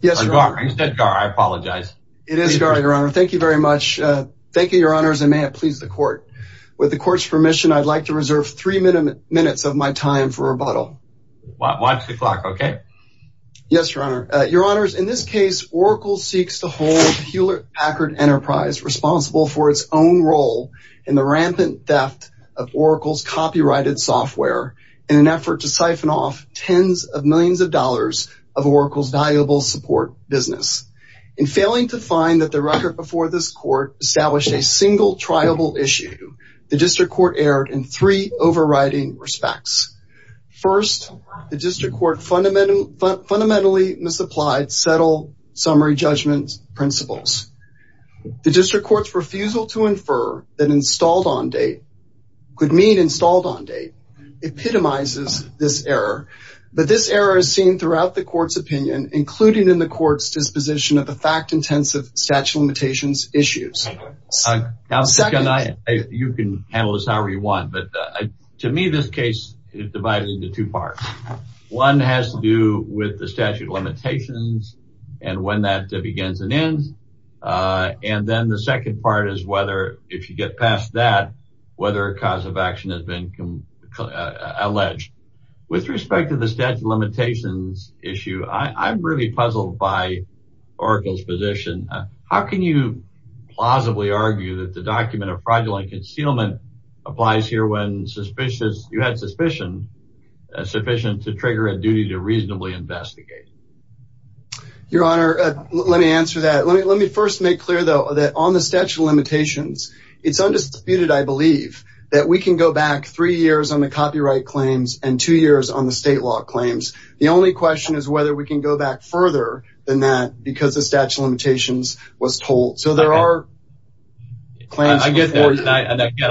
It is Gar, Your Honor. Thank you very much. Thank you, Your Honors, and may it please the Court. With the Court's permission, I'd like to reserve three minutes of my time for rebuttal. Watch the clock, okay? Yes, Your Honor. Your Honors, in this case, Oracle seeks to hold Hewlett Packard Enterprise responsible for its own role in the rampant theft of Oracle's copyrighted software in an effort to siphon off tens of millions of dollars of Oracle's valuable support business. In failing to find that the record before this Court established a single triable issue, the District Court erred in three overriding respects. First, the District Court fundamentally misapplied subtle summary judgment principles. The District Court's refusal to infer that installed on date could mean installed on date epitomizes this error, but this error is seen throughout the Court's opinion, including in the Court's disposition of the fact-intensive statute of limitations issues. Now, you can handle this however you want, but to me, this case is divided into two parts. One has to do with the statute of limitations and when that begins and ends, and then the second part is whether, if you get past that, whether a cause of action has been alleged. With respect to the statute of limitations issue, I'm really puzzled by Oracle's position. How can you plausibly argue that the document of fraudulent concealment applies here when you had sufficient to trigger a duty to reasonably investigate? Your Honor, let me answer that. Let me first make clear, though, that on the statute of limitations, it's undisputed, I believe, that we can go back three years on the copyright claims and two years on the state law claims. The only question is whether we can go back further than that because the statute of limitations was told. So there are claims... I get that, and again,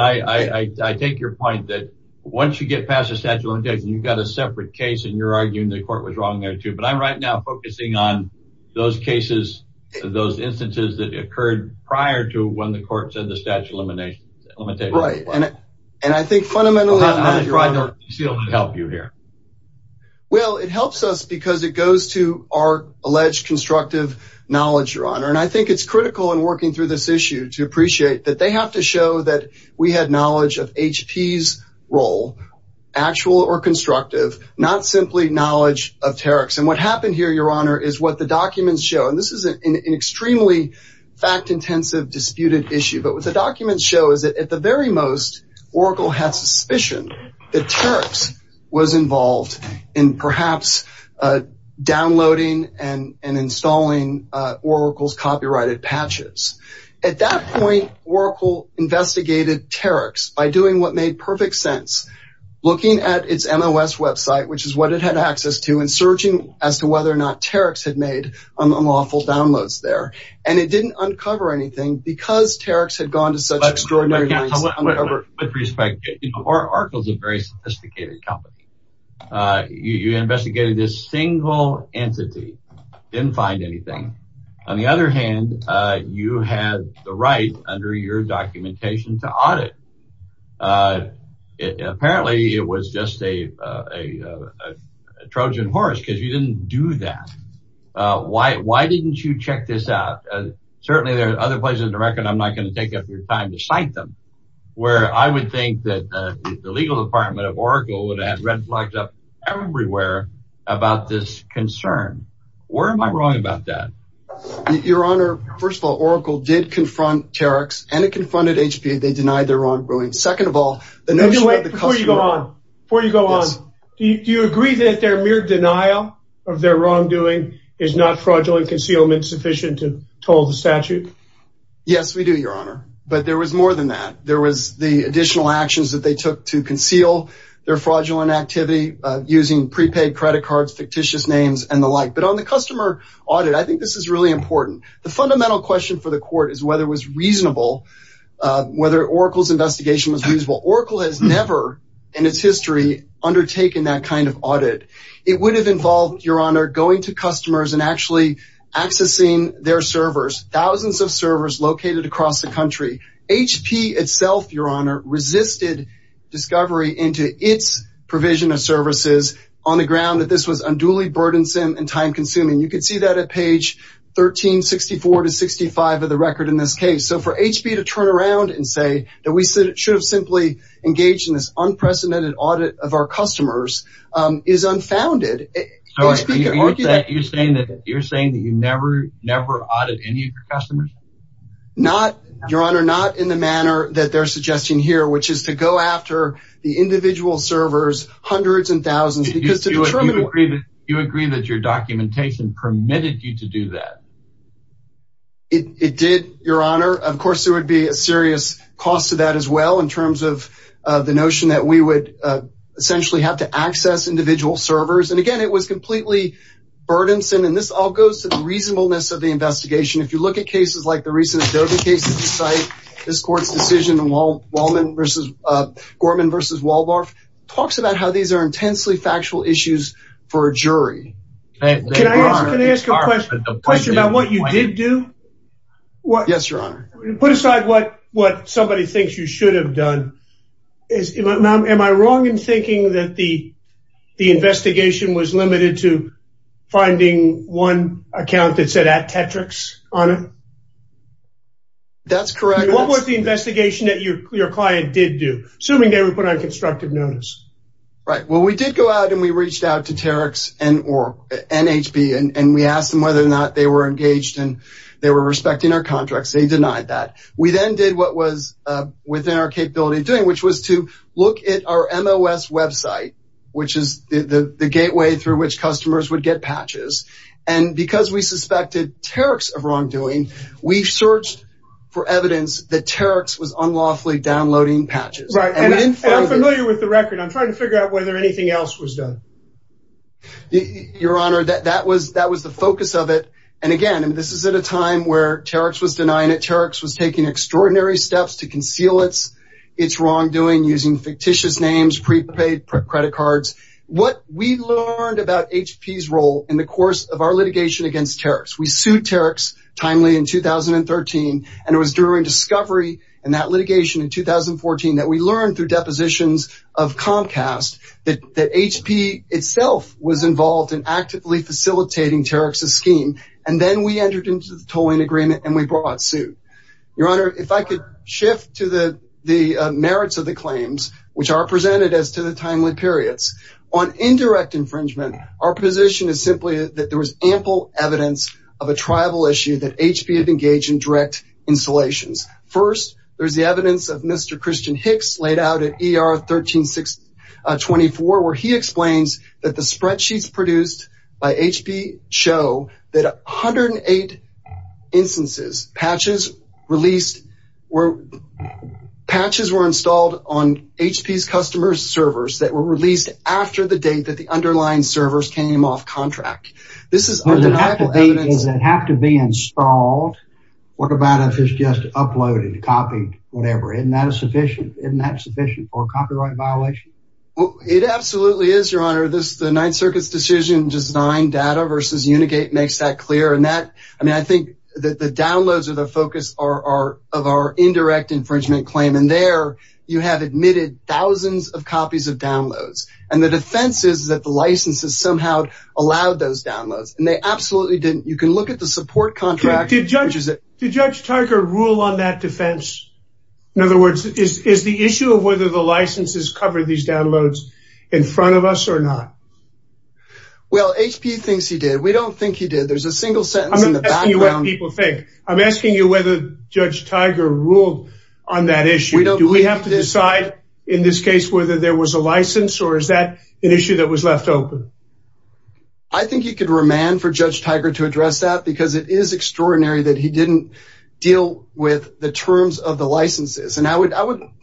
I take your point that once you get past the statute of limitations, you've got a separate case and you're arguing the Court was wrong there, too, but I'm right now focusing on those cases, those instances that occurred prior to when the Court said the statute of limitations. Right, and I think fundamentally... How does fraudulent concealment help you here? Well, it helps us because it goes to our alleged constructive knowledge, Your Honor, and I think it's critical in working through this issue to appreciate that they have to show that we had knowledge of HP's role, actual or constructive, not simply knowledge of Tarek's. And what happened here, Your Honor, is what the documents show, and this is an extremely fact-intensive, disputed issue, but what the documents show is that at the very most, Oracle had suspicion that Tarek's was involved in perhaps downloading and installing Oracle's copyrighted patches. At that point, Oracle investigated Tarek's by doing what made perfect sense, looking at its MOS website, which is what it had access to, and searching as to whether or not Tarek's had made unlawful downloads there. And it didn't uncover anything because Tarek's had gone to such extraordinary lengths to uncover... With respect, Oracle's a very sophisticated company. You investigated this single entity, didn't find anything. On the other hand, you had the right, under your documentation, to audit. Apparently, it was just a Trojan horse because you didn't do that. Why didn't you check this out? Certainly, there are other places in America, and I'm not going to take up your time to cite them, where I would think that the legal department of Oracle would have red flags up everywhere about this concern. Where am I wrong about that? Your Honor, first of all, Oracle did confront Tarek's, and it confronted HPA. They denied their wrongdoing. Second of all, the notion that the customer... Is not fraudulent concealment sufficient to toll the statute? Yes, we do, Your Honor. But there was more than that. There was the additional actions that they took to conceal their fraudulent activity, using prepaid credit cards, fictitious names, and the like. But on the customer audit, I think this is really important. The fundamental question for the court is whether it was reasonable, whether Oracle's investigation was reasonable. Oracle has never, in its history, undertaken that kind of audit. It would have involved, Your Honor, going to customers and actually accessing their servers, thousands of servers located across the country. HP itself, Your Honor, resisted discovery into its provision of services, on the ground that this was unduly burdensome and time-consuming. You can see that at page 1364-65 of the record in this case. So for HP to turn around and say that we should have simply engaged in this unprecedented audit of our customers is unfounded. So you're saying that you never, never audited any of your customers? Not, Your Honor, not in the manner that they're suggesting here, which is to go after the individual servers, hundreds and thousands. Do you agree that your documentation permitted you to do that? It did, Your Honor. Of course, there would be a serious cost to that as well, in terms of the notion that we would essentially have to access individual servers. And again, it was completely burdensome. And this all goes to the reasonableness of the investigation. If you look at cases like the recent Adobe case at this site, this court's decision, Gorman v. Waldorf, talks about how these are intensely factual issues for a jury. Can I ask a question about what you did do? Yes, Your Honor. Put aside what somebody thinks you should have done. Am I wrong in thinking that the investigation was limited to finding one account that said at Tetrix, Your Honor? That's correct. What was the investigation that your client did do, assuming they were put on constructive notice? Right. Well, we did go out and we reached out to Tetrix or NHB, and we asked them whether or not they were engaged and they were respecting our contracts. They denied that. We then did what was within our capability of doing, which was to look at our MOS website, which is the gateway through which customers would get patches. And because we suspected Tetrix of wrongdoing, we searched for evidence that Tetrix was unlawfully downloading patches. Right. And I'm familiar with the record. I'm trying to figure out whether anything else was done. Your Honor, that was the focus of it. And again, this is at a time where Tetrix was denying it. Tetrix was taking extraordinary steps to conceal its wrongdoing using fictitious names, prepaid credit cards. What we learned about HP's role in the course of our litigation against Tetrix, we sued Tetrix timely in 2013, and it was during discovery and that litigation in 2014 that we learned through depositions of Comcast that HP itself was involved in actively facilitating Tetrix's scheme. And then we entered into the tolling agreement and we brought suit. Your Honor, if I could shift to the merits of the claims, which are presented as to the timely periods. On indirect infringement, our position is simply that there was ample evidence of a tribal issue that HP had engaged in direct installations. First, there's the evidence of Mr. Christian Hicks laid out at ER 13624, where he explains that the spreadsheets produced by HP show that 108 instances patches were installed on HP's customer servers that were released after the date that the underlying servers came off contract. This is undeniable evidence. Does it have to be installed? What about if it's just uploaded, copied, whatever? Isn't that sufficient for a copyright violation? It absolutely is, Your Honor. The Ninth Circuit's decision design data versus Unigate makes that clear. And that, I mean, I think that the downloads are the focus of our indirect infringement claim. And there you have admitted thousands of copies of downloads. And the defense is that the licenses somehow allowed those downloads. And they absolutely didn't. You can look at the support contract. Did Judge Tucker rule on that defense? In other words, is the issue of whether the licenses covered these downloads in front of us or not? Well, HP thinks he did. We don't think he did. There's a single sentence in the background. I'm not asking you what people think. I'm asking you whether Judge Tiger ruled on that issue. Do we have to decide in this case whether there was a license, or is that an issue that was left open? I think you could remand for Judge Tiger to address that, because it is extraordinary that he didn't deal with the terms of the licenses. And I would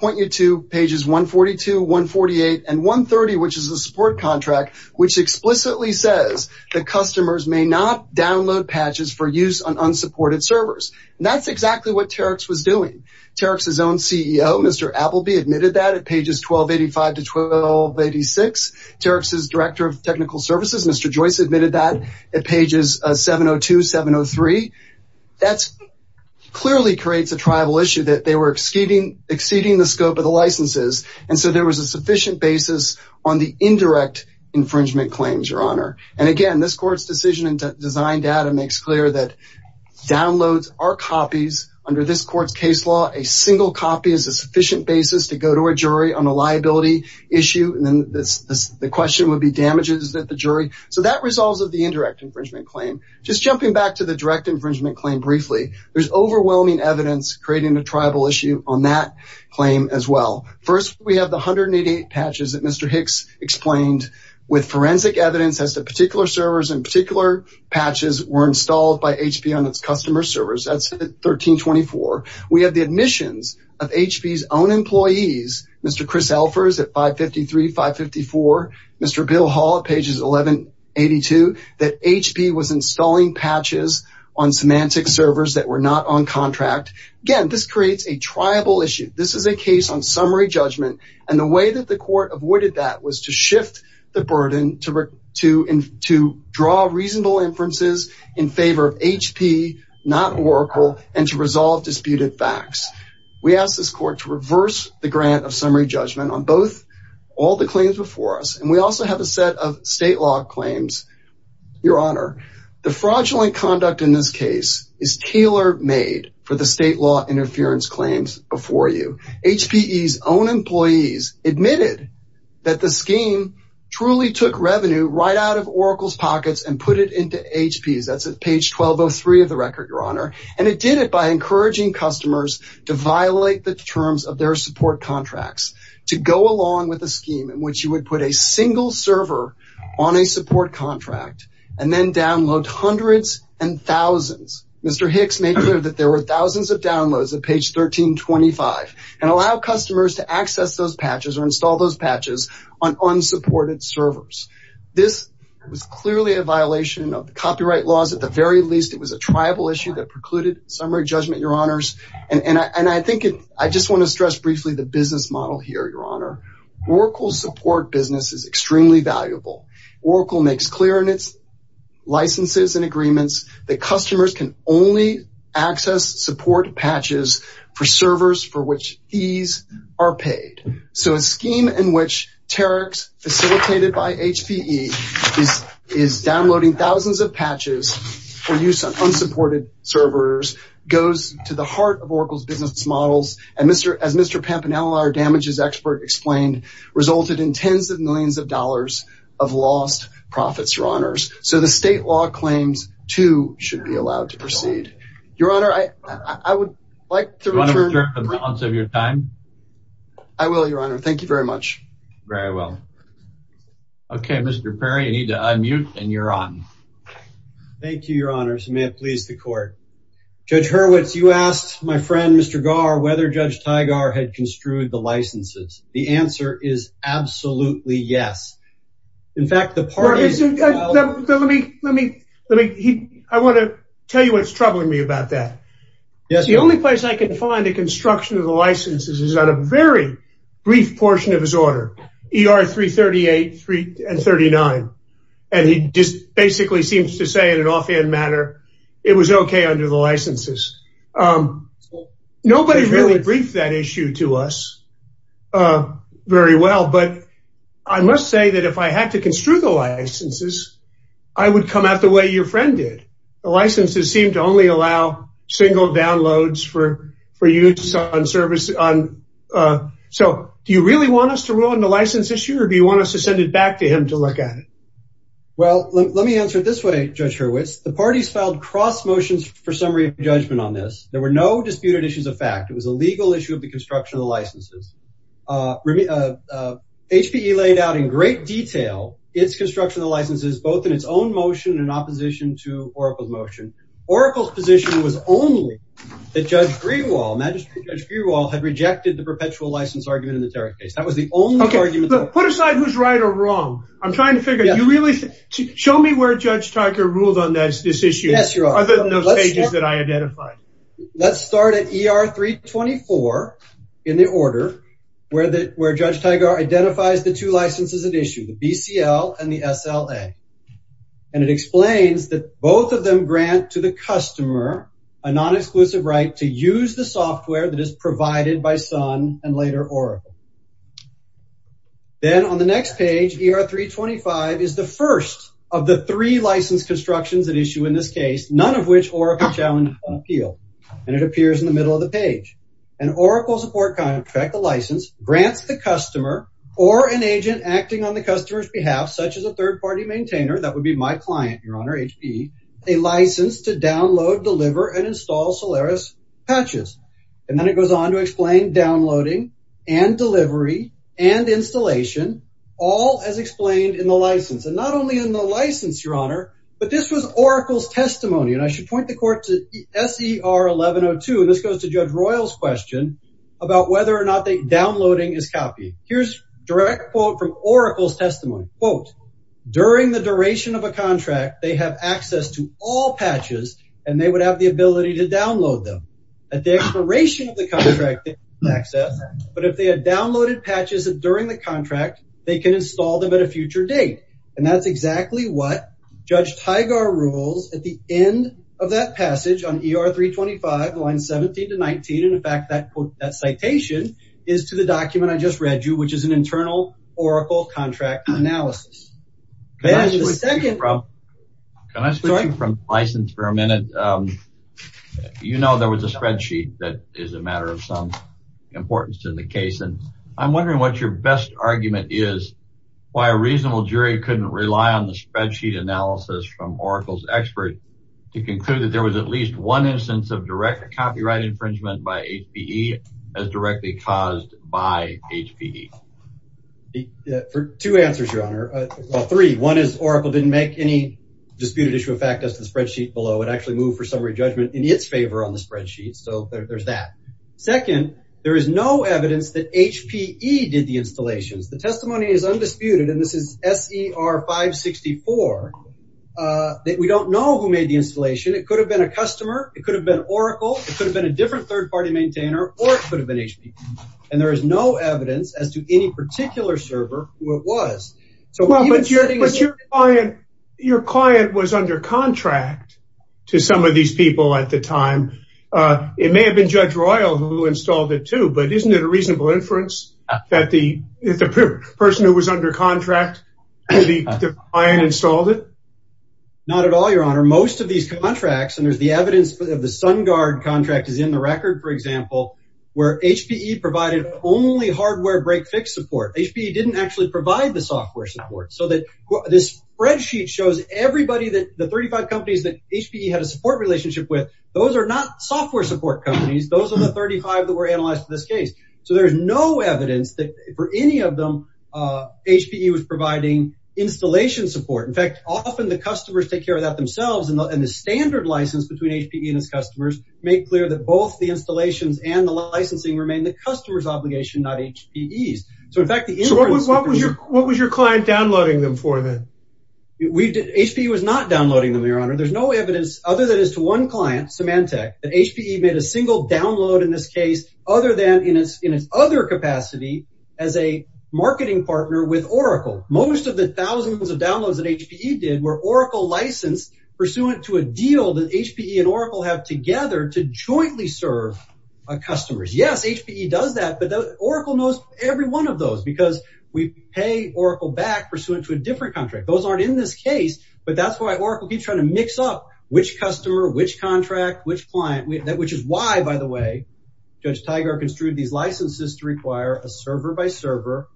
point you to pages 142, 148, and 130, which is the support contract, which explicitly says the customers may not download patches for use on unsupported servers. And that's exactly what Terex was doing. Terex's own CEO, Mr. Appleby, admitted that at pages 1285 to 1286. Terex's Director of Technical Services, Mr. Joyce, admitted that at pages 702, 703. That clearly creates a tribal issue that they were exceeding the scope of the licenses, and so there was a sufficient basis on the indirect infringement claims, Your Honor. And, again, this Court's decision and design data makes clear that downloads are copies. Under this Court's case law, a single copy is a sufficient basis to go to a jury on a liability issue. And then the question would be damages that the jury. So that resolves with the indirect infringement claim. Just jumping back to the direct infringement claim briefly, there's overwhelming evidence creating a tribal issue on that claim as well. First, we have the 188 patches that Mr. Hicks explained with forensic evidence as to particular servers and particular patches were installed by HP on its customer servers. That's 1324. We have the admissions of HP's own employees, Mr. Chris Elfers at 553, 554, Mr. Bill Hall at pages 1182, that HP was installing patches on Symantec servers that were not on contract. Again, this creates a tribal issue. This is a case on summary judgment, and the way that the Court avoided that was to shift the burden to draw reasonable inferences in favor of HP, not Oracle, and to resolve disputed facts. We asked this Court to reverse the grant of summary judgment on both all the claims before us, and we also have a set of state law claims, Your Honor. The fraudulent conduct in this case is tailor-made for the state law interference claims before you. HPE's own employees admitted that the scheme truly took revenue right out of Oracle's pockets and put it into HP's. That's at page 1203 of the record, Your Honor, and it did it by encouraging customers to violate the terms of their support contracts, to go along with a scheme in which you would put a single server on a support contract and then download hundreds and thousands. Mr. Hicks made clear that there were thousands of downloads at page 1325 and allowed customers to access those patches or install those patches on unsupported servers. This was clearly a violation of the copyright laws. At the very least, it was a tribal issue that precluded summary judgment, Your Honors, and I just want to stress briefly the business model here, Your Honor. Oracle's support business is extremely valuable. Oracle makes clear in its licenses and agreements that customers can only access support patches for servers for which fees are paid. So a scheme in which Terax, facilitated by HPE, is downloading thousands of patches for use on unsupported servers goes to the heart of Oracle's business models, and as Mr. Pampanella, our damages expert, explained, resulted in tens of millions of dollars of lost profits, Your Honors. So the state law claims, too, should be allowed to proceed. Your Honor, I would like to return... Do you want to return for the balance of your time? I will, Your Honor. Thank you very much. Very well. Okay, Mr. Perry, you need to unmute, and you're on. Thank you, Your Honors, and may it please the Court. Judge Hurwitz, you asked my friend, Mr. Garr, whether Judge Teigar had construed the licenses. The answer is absolutely yes. In fact, the parties... Let me... I want to tell you what's troubling me about that. Yes, Your Honor. The only place I can find a construction of the licenses is on a very brief portion of his order, ER 338 and 39, and he just basically seems to say, in an offhand manner, it was okay under the licenses. Nobody really briefed that issue to us very well, but I must say that if I had to construe the licenses, I would come at it the way your friend did. The licenses seemed to only allow single downloads for use on service on... So do you really want us to ruin the license issue, or do you want us to send it back to him to look at it? Well, let me answer it this way, Judge Hurwitz. The parties filed cross motions for summary of judgment on this. There were no disputed issues of fact. It was a legal issue of the construction of the licenses. HPE laid out in great detail its construction of the licenses, both in its own motion and in opposition to Oracle's motion. Oracle's position was only that Judge Greenwald, Magistrate Judge Greenwald, had rejected the perpetual license argument in the Tarrac case. That was the only argument... Okay, but put aside who's right or wrong. I'm trying to figure... You really... Show me where Judge Tiger ruled on this issue, other than those pages that I identified. Let's start at ER 324 in the order where Judge Tiger identifies the two licenses at issue, the BCL and the SLA, and it explains that both of them grant to the customer a non-exclusive right to use the software that is provided by Sun and later Oracle. Then on the next page, ER 325 is the first of the three license constructions at issue in this case, none of which Oracle challenged on appeal, and it appears in the middle of the page. An Oracle support contract, the license, grants the customer or an agent acting on the customer's behalf, such as a third-party maintainer, that would be my client, Your Honor, HPE, a license to download, deliver, and install Solaris patches. And then it goes on to explain downloading and delivery and installation, all as explained in the license. And not only in the license, Your Honor, but this was Oracle's testimony. And I should point the court to SER 1102, and this goes to Judge Royal's question about whether or not downloading is copy. Here's a direct quote from Oracle's testimony. Quote, during the duration of a contract, they have access to all patches, and they would have the ability to download them. At the expiration of the contract, they have access, but if they had downloaded patches during the contract, they can install them at a future date. And that's exactly what Judge Teigar rules at the end of that passage on ER 325, lines 17 to 19. And, in fact, that citation is to the document I just read you, which is an internal Oracle contract analysis. And the second… Can I switch you from license for a minute? You know there was a spreadsheet that is a matter of some importance in the case, and I'm wondering what your best argument is why a reasonable jury couldn't rely on the spreadsheet analysis from Oracle's expert to conclude that there was at least one instance of direct copyright infringement by HPE as directly caused by HPE. For two answers, Your Honor. Well, three. One is Oracle didn't make any disputed issue of fact as to the spreadsheet below. It actually moved for summary judgment in its favor on the spreadsheet, so there's that. Second, there is no evidence that HPE did the installations. The testimony is undisputed, and this is SER 564, that we don't know who made the installation. It could have been a customer. It could have been Oracle. It could have been a different third-party maintainer, or it could have been HPE. And there is no evidence as to any particular server who it was. But your client was under contract to some of these people at the time. It may have been Judge Royal who installed it too, but isn't it a reasonable inference that the person who was under contract to the client installed it? Not at all, Your Honor. Most of these contracts, and there's the evidence of the SunGuard contract is in the record, for example, where HPE provided only hardware break-fix support. HPE didn't actually provide the software support, so this spreadsheet shows everybody that the 35 companies that HPE had a support relationship with. Those are not software support companies. Those are the 35 that were analyzed for this case. So there's no evidence that for any of them HPE was providing installation support. In fact, often the customers take care of that themselves, and the standard license between HPE and its customers make clear that both the installations and the licensing remain the customer's obligation, not HPE's. So in fact, the inference that there's a… So what was your client downloading them for then? HPE was not downloading them, Your Honor. There's no evidence other than as to one client, Symantec, that HPE made a single download in this case other than in its other capacity as a marketing partner with Oracle. Most of the thousands of downloads that HPE did were Oracle licensed pursuant to a deal that HPE and Oracle have together to jointly serve customers. Yes, HPE does that, but Oracle knows every one of those because we pay Oracle back pursuant to a different contract. Those aren't in this case, but that's why Oracle keeps trying to mix up which customer, which contract, which client, which is why, by the way, Judge Tiger construed these licenses to require a server-by-server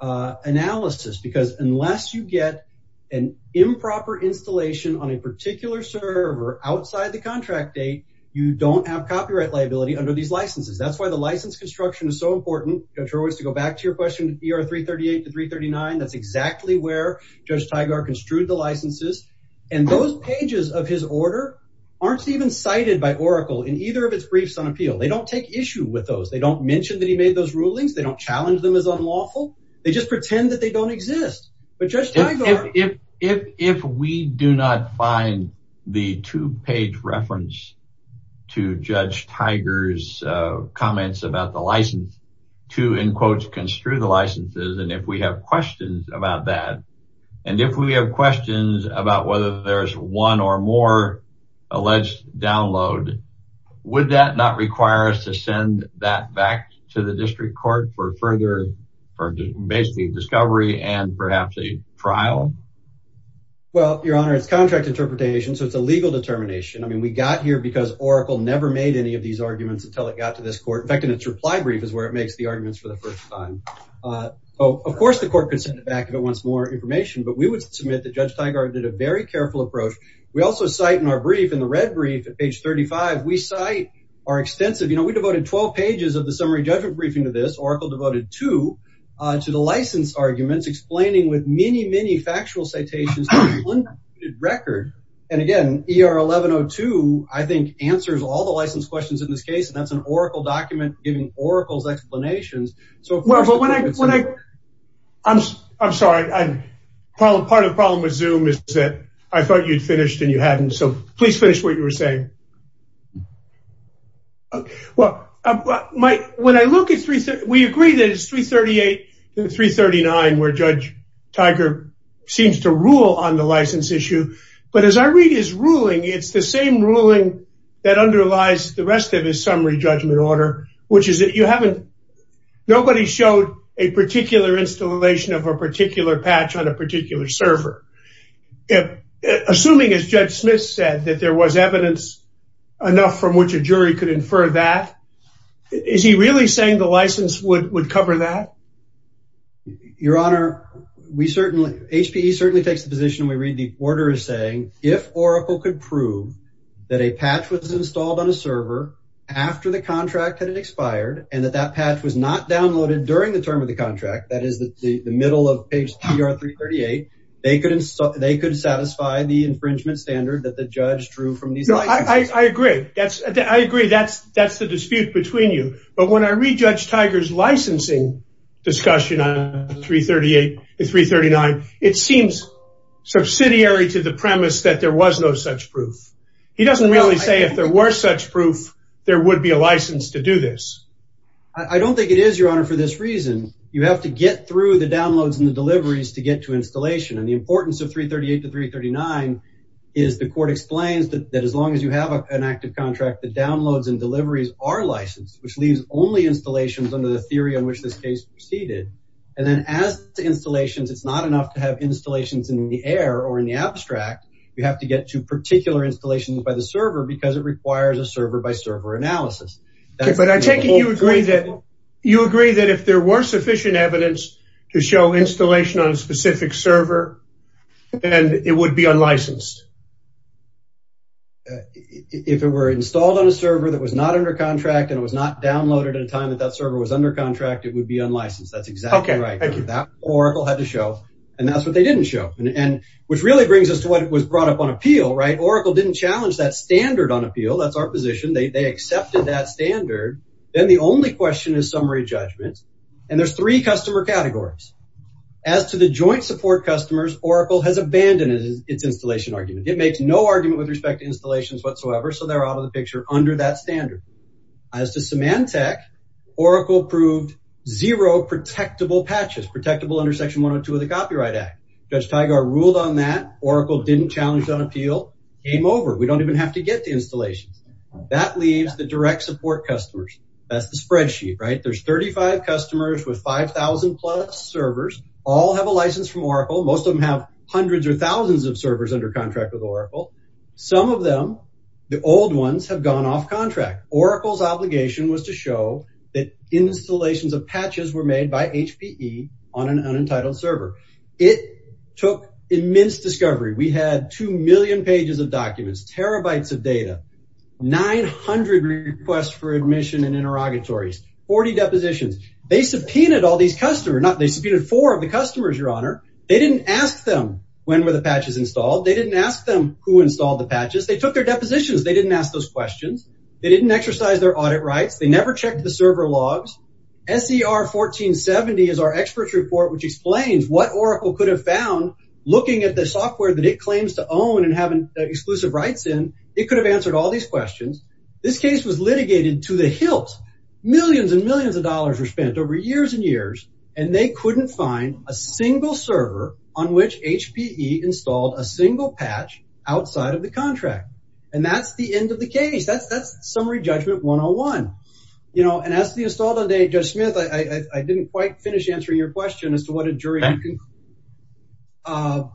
analysis because unless you get an improper installation on a particular server outside the contract date, you don't have copyright liability under these licenses. That's why the license construction is so important. To go back to your question, ER 338 to 339, that's exactly where Judge Tiger construed the licenses, and those pages of his order aren't even cited by Oracle in either of its briefs on appeal. They don't take issue with those. They don't mention that he made those rulings. They don't challenge them as unlawful. They just pretend that they don't exist. If we do not find the two-page reference to Judge Tiger's comments about the license to, in quotes, construe the licenses, and if we have questions about that, and if we have questions about whether there's one or more alleged download, would that not require us to send that back to the district court for further discovery and perhaps a trial? Well, Your Honor, it's contract interpretation, so it's a legal determination. I mean, we got here because Oracle never made any of these arguments until it got to this court. In fact, in its reply brief is where it makes the arguments for the first time. Of course, the court could send it back if it wants more information, but we would submit that Judge Tiger did a very careful approach. We also cite in our brief, in the red brief at page 35, we cite our extensive, you know, we devoted 12 pages of the summary judgment briefing to this. Oracle devoted two to the license arguments, explaining with many, many factual citations to one recorded record. And again, ER-1102, I think, answers all the license questions in this case, and that's an Oracle document giving Oracle's explanations. I'm sorry. Part of the problem with Zoom is that I thought you'd finished and you hadn't, so please finish what you were saying. Well, when I look at 338, we agree that it's 338 and 339 where Judge Tiger seems to rule on the license issue, but as I read his ruling, it's the same ruling that underlies the rest of his summary judgment order, which is that you haven't, nobody showed a particular installation of a particular patch on a particular server. Assuming, as Judge Smith said, that there was evidence enough from which a jury could infer that, is he really saying the license would cover that? Your Honor, we certainly, HPE certainly takes the position we read the order as saying, if Oracle could prove that a patch was installed on a server after the contract had expired and that that patch was not downloaded during the term of the contract, that is the middle of page 338, they could satisfy the infringement standard that the judge drew from these licenses. I agree. I agree. That's the dispute between you, but when I read Judge Tiger's licensing discussion on 338 and 339, it seems subsidiary to the premise that there was no such proof. He doesn't really say if there were such proof, there would be a license to do this. I don't think it is, Your Honor, for this reason. You have to get through the downloads and the deliveries to get to installation, and the importance of 338 to 339 is the court explains that as long as you have an active contract, the downloads and deliveries are licensed, which leaves only installations under the theory on which this case proceeded. And then as to installations, it's not enough to have installations in the air or in the abstract. You have to get to particular installations by the server because it requires a server-by-server analysis. But I take it you agree that if there were sufficient evidence to show installation on a specific server, then it would be unlicensed. If it were installed on a server that was not under contract and it was not downloaded at a time that that server was under contract, it would be unlicensed. That's exactly right. That's what Oracle had to show, and that's what they didn't show, which really brings us to what was brought up on appeal. Oracle didn't challenge that standard on appeal. That's our position. They accepted that standard. Then the only question is summary judgment, and there's three customer categories. As to the joint support customers, Oracle has abandoned its installation argument. It makes no argument with respect to installations whatsoever, so they're out of the picture under that standard. As to Symantec, Oracle proved zero protectable patches, protectable under Section 102 of the Copyright Act. Judge Tygar ruled on that. Oracle didn't challenge that appeal. Game over. We don't even have to get to installations. That leaves the direct support customers. That's the spreadsheet, right? There's 35 customers with 5,000-plus servers. All have a license from Oracle. Most of them have hundreds or thousands of servers under contract with Oracle. Some of them, the old ones, have gone off contract. Oracle's obligation was to show that installations of patches were made by HPE on an unentitled server. It took immense discovery. We had 2 million pages of documents, terabytes of data, 900 requests for admission and interrogatories, 40 depositions. They subpoenaed all these customers. They subpoenaed four of the customers, Your Honor. They didn't ask them when were the patches installed. They didn't ask them who installed the patches. They took their depositions. They didn't ask those questions. They didn't exercise their audit rights. They never checked the server logs. SER 1470 is our experts report, which explains what Oracle could have found looking at the software that it claims to own and have exclusive rights in. It could have answered all these questions. This case was litigated to the hilt. Millions and millions of dollars were spent over years and years, and they couldn't find a single server on which HPE installed a single patch outside of the contract. And that's the end of the case. That's Summary Judgment 101. You know, and as to the installed on day, Judge Smith, I didn't quite finish answering your question as to what a jury can conclude.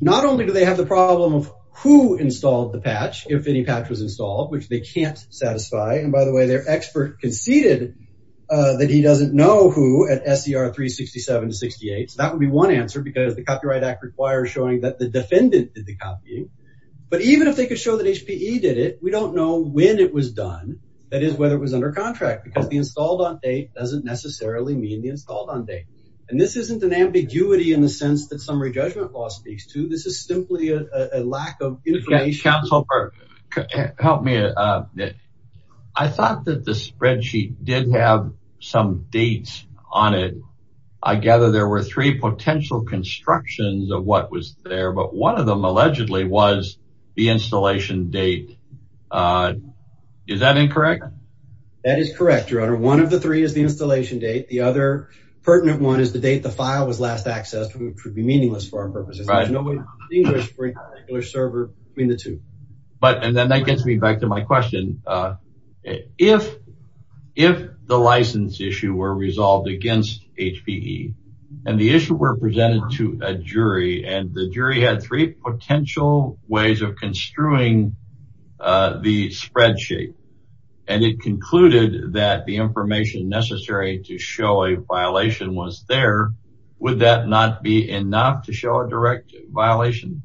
Not only do they have the problem of who installed the patch, if any patch was installed, which they can't satisfy. And, by the way, their expert conceded that he doesn't know who at SER 367 to 68. So that would be one answer because the Copyright Act requires showing that the defendant did the copying. But even if they could show that HPE did it, we don't know when it was done. That is, whether it was under contract, because the installed on date doesn't necessarily mean the installed on date. And this isn't an ambiguity in the sense that summary judgment law speaks to. This is simply a lack of information. Counsel, help me. I thought that the spreadsheet did have some dates on it. I gather there were three potential constructions of what was there, but one of them allegedly was the installation date. Is that incorrect? That is correct, Your Honor. One of the three is the installation date. The other pertinent one is the date the file was last accessed, which would be meaningless for our purposes. There's no way to distinguish a particular server between the two. And that gets me back to my question. If the license issue were resolved against HPE, and the issue were presented to a jury, and the jury had three potential ways of construing the spreadsheet, and it concluded that the information necessary to show a violation was there, would that not be enough to show a direct violation?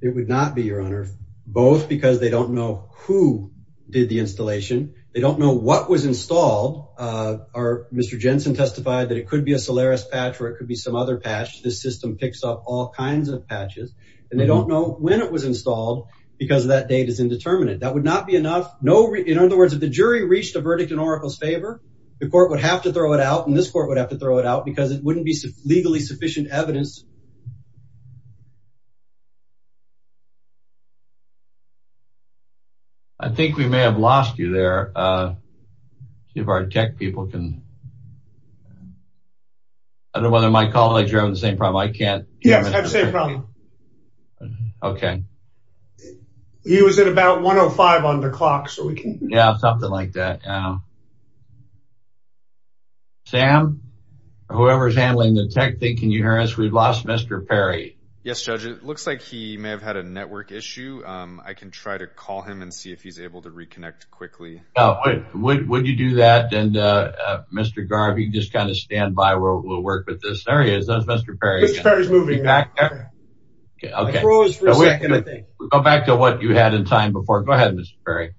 It would not be, Your Honor, both because they don't know who did the installation. They don't know what was installed. Mr. Jensen testified that it could be a Solaris patch or it could be some other patch. This system picks up all kinds of patches. And they don't know when it was installed because that date is indeterminate. That would not be enough. In other words, if the jury reached a verdict in Oracle's favor, the court would have to throw it out, and this court would have to throw it out because it wouldn't be legally sufficient evidence. I think we may have lost you there. See if our tech people can... I don't know whether my colleagues are having the same problem. I can't... Yes, I have the same problem. Okay. He was at about 105 on the clock, so we can... Yeah, something like that. Yeah. Sam, whoever's handling the tech thing, can you hear us? We've lost Mr. Perry. Yes, Judge. It looks like he may have had a network issue. I can try to call him and see if he's able to reconnect quickly. Would you do that? And, Mr. Garvey, just kind of stand by. We'll work with this. There he is. That's Mr. Perry. Mr. Perry's moving back there. Okay. I froze for a second, I think. Go back to what you had in time before. Go ahead, Mr. Perry.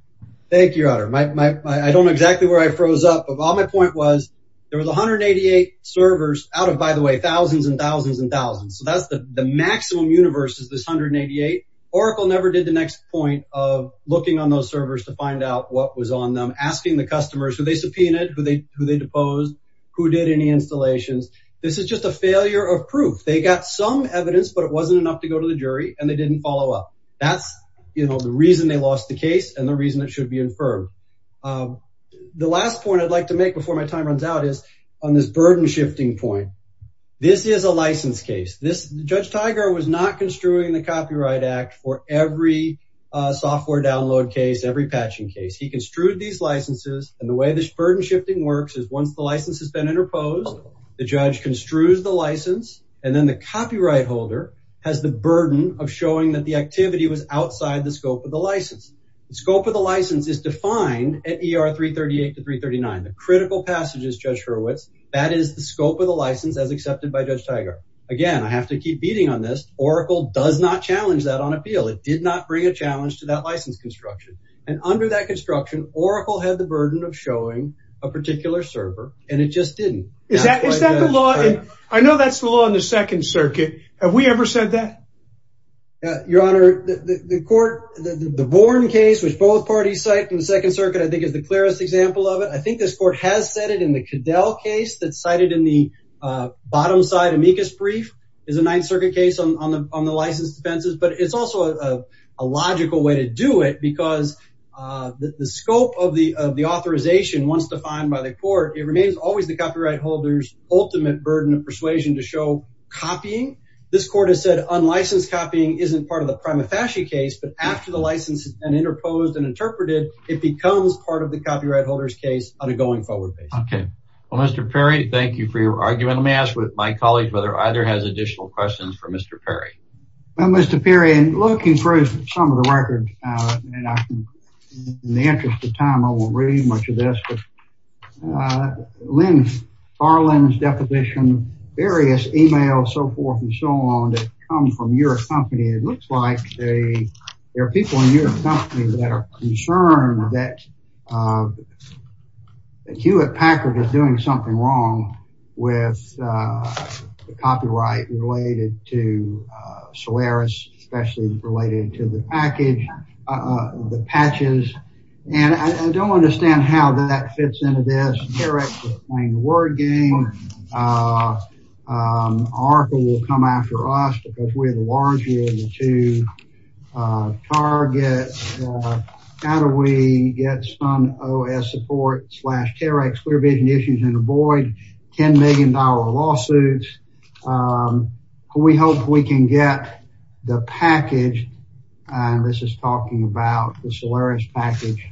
Thank you, Your Honor. I don't know exactly where I froze up, but my point was there was 188 servers out of, by the way, thousands and thousands and thousands. So, that's the maximum universe is this 188. Oracle never did the next point of looking on those servers to find out what was on them, asking the customers who they subpoenaed, who they deposed, who did any installations. This is just a failure of proof. They got some evidence, but it wasn't enough to go to the jury, and they didn't follow up. That's, you know, the reason they lost the case and the reason it should be infirmed. The last point I'd like to make before my time runs out is on this burden-shifting point. This is a license case. Judge Tiger was not construing the Copyright Act for every software download case, every patching case. He construed these licenses, and the way this burden-shifting works is once the license has been interposed, the judge construes the license, and then the copyright holder has the burden of showing that the activity was outside the scope of the license. The scope of the license is defined at ER 338 to 339, the critical passages, Judge Hurwitz. That is the scope of the license as accepted by Judge Tiger. Again, I have to keep beating on this. Oracle does not challenge that on appeal. It did not bring a challenge to that license construction, and under that construction, Oracle had the burden of showing a particular server, and it just didn't. Is that the law? I know that's the law in the Second Circuit. Have we ever said that? Your Honor, the court, the Bourne case, which both parties cited in the Second Circuit, I think is the clearest example of it. I think this court has said it in the Cadell case that's cited in the bottom-side amicus brief. It's a Ninth Circuit case on the license defenses, but it's also a logical way to do it because the scope of the authorization, once defined by the court, it remains always the copyright holder's ultimate burden of persuasion to show copying. This court has said unlicensed copying isn't part of the prima facie case, but after the license has been interposed and interpreted, it becomes part of the copyright holder's case on a going-forward basis. Okay. Well, Mr. Perry, thank you for your argument. Let me ask my colleague whether either has additional questions for Mr. Perry. Well, Mr. Perry, in looking through some of the records, and in the interest of time, I won't read much of this, but Lynn Farland's deposition, various emails, so forth and so on, that come from your company, it looks like there are people in your company that are concerned that Hewitt Packard is doing something wrong with the copyright related to Solaris, especially related to the package, the patches, and I don't understand how that fits into this. Terex is playing the word game. Oracle will come after us because we're the larger of the two. Target, how do we get some OS support? Clear vision issues and avoid $10 million lawsuits. We hope we can get the package, and this is talking about the Solaris package.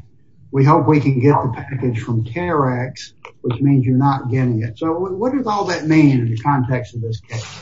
We hope we can get the package from Terex, which means you're not getting it. So what does all that mean in the context of this case?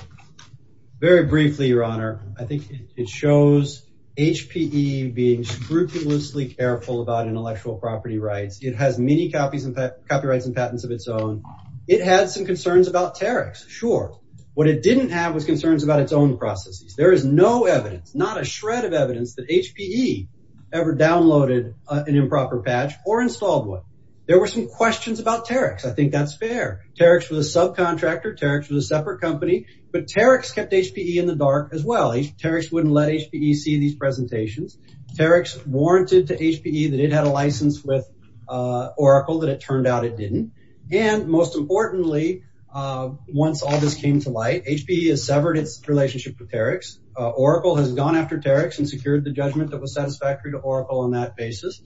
Very briefly, Your Honor, I think it shows HPE being scrupulously careful about intellectual property rights. It has many copyrights and patents of its own. It had some concerns about Terex, sure. What it didn't have was concerns about its own processes. There is no evidence, not a shred of evidence, that HPE ever downloaded an improper patch or installed one. There were some questions about Terex. I think that's fair. Terex was a subcontractor. Terex was a separate company, but Terex kept HPE in the dark as well. Terex wouldn't let HPE see these presentations. Terex warranted to HPE that it had a license with Oracle, but it turned out it didn't. And most importantly, once all this came to light, HPE has severed its relationship with Terex. Oracle has gone after Terex and secured the judgment that was satisfactory to Oracle on that basis.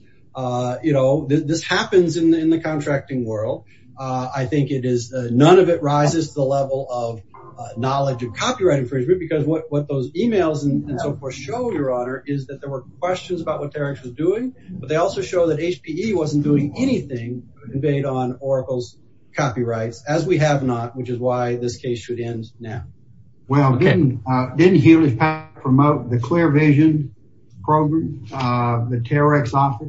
This happens in the contracting world. I think none of it rises to the level of knowledge of copyright infringement because what those emails and so forth show, Your Honor, is that there were questions about what Terex was doing, but they also show that HPE wasn't doing anything to invade on Oracle's copyrights, as we have not, which is why this case should end now. Well, didn't Hewlett-Packard promote the Clear Vision program, the Terex office?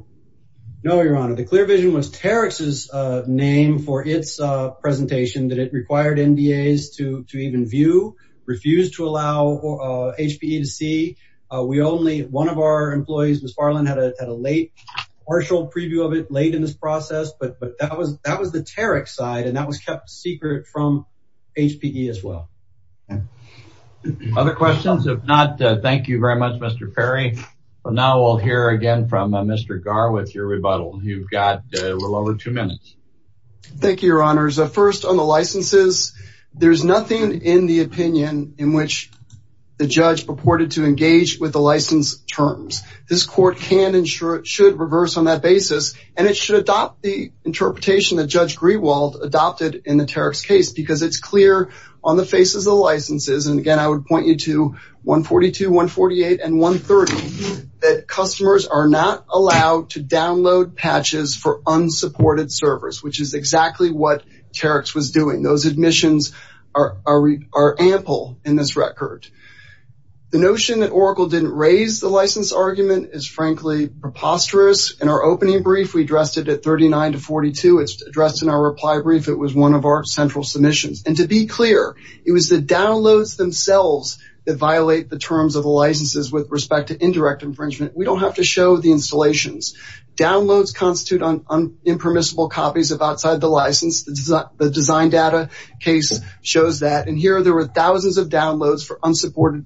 No, Your Honor. The Clear Vision was Terex's name for its presentation that it required NDAs to even review, refused to allow HPE to see. We only, one of our employees, Ms. Farland, had a late partial preview of it late in this process, but that was the Terex side, and that was kept secret from HPE as well. Other questions? If not, thank you very much, Mr. Perry. Now we'll hear again from Mr. Garr with your rebuttal. You've got a little over two minutes. Thank you, Your Honors. There's a first on the licenses. There's nothing in the opinion in which the judge purported to engage with the license terms. This court can and should reverse on that basis, and it should adopt the interpretation that Judge Grewald adopted in the Terex case because it's clear on the faces of the licenses, and again, I would point you to 142, 148, and 130, that customers are not allowed to download patches for what Terex was doing. Those admissions are ample in this record. The notion that Oracle didn't raise the license argument is, frankly, preposterous. In our opening brief, we addressed it at 39 to 42. It's addressed in our reply brief. It was one of our central submissions, and to be clear, it was the downloads themselves that violate the terms of the licenses with respect to indirect infringement. We don't have to show the installations. Downloads constitute on impermissible copies of outside the license. The design data case shows that, and here there were thousands of downloads for unsupported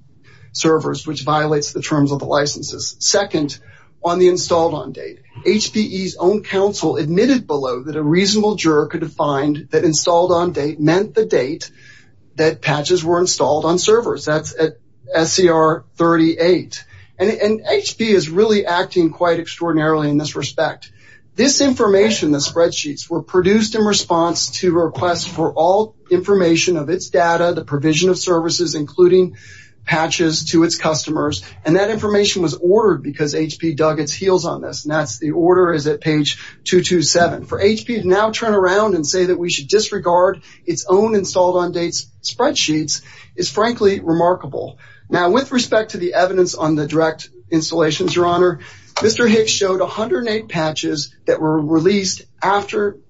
servers, which violates the terms of the licenses. Second, on the installed on date, HPE's own counsel admitted below that a reasonable juror could find that installed on date meant the date that patches were installed on servers. That's at SCR 38. And HPE is really acting quite extraordinarily in this respect. This information, the spreadsheets, were produced in response to requests for all information of its data, the provision of services, including patches to its customers, and that information was ordered because HPE dug its heels on this, and that's the order is at page 227. For HPE to now turn around and say that we should disregard its own installed on dates spreadsheets is, frankly, remarkable. Now, with respect to the evidence on the direct installations, Your Honor, Mr. Hicks showed 108 patches that were released after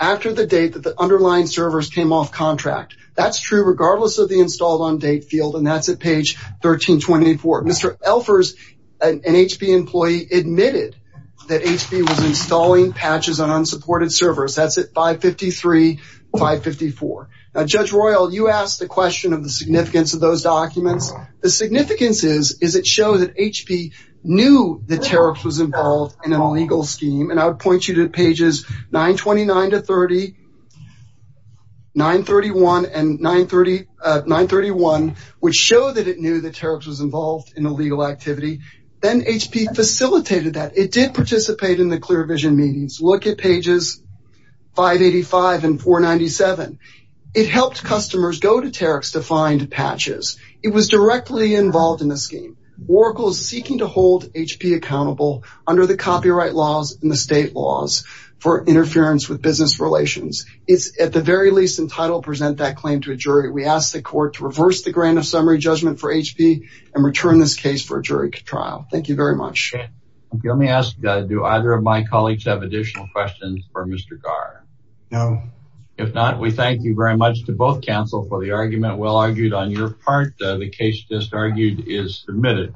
the date that the underlying servers came off contract. That's true regardless of the installed on date field, and that's at page 1324. Mr. Elfers, an HPE employee, admitted that HPE was installing patches on unsupported servers. That's at 553, 554. Now, Judge Royal, you asked the question of the significance of those documents. The significance is, is it shows that HPE knew the tariffs was involved in an illegal scheme, and I would point you to pages 929 to 30, 931, and 930, 931, which show that it knew the tariffs was involved in illegal activity. Then HPE facilitated that. It did participate in the Clear Vision meetings. Look at pages 585 and 497. It helped customers go to tariffs to find patches. It was directly involved in the scheme. Oracle is seeking to hold HPE accountable under the copyright laws and the state laws for interference with business relations. It's at the very least entitled to present that claim to a jury. We ask the court to reverse the grant of summary judgment for HPE and return this case for a jury trial. Thank you very much. Let me ask, do either of my colleagues have additional questions for Mr. Garr? No. If not, we thank you very much to both counsel for the argument. Well argued on your part. The case just argued is submitted.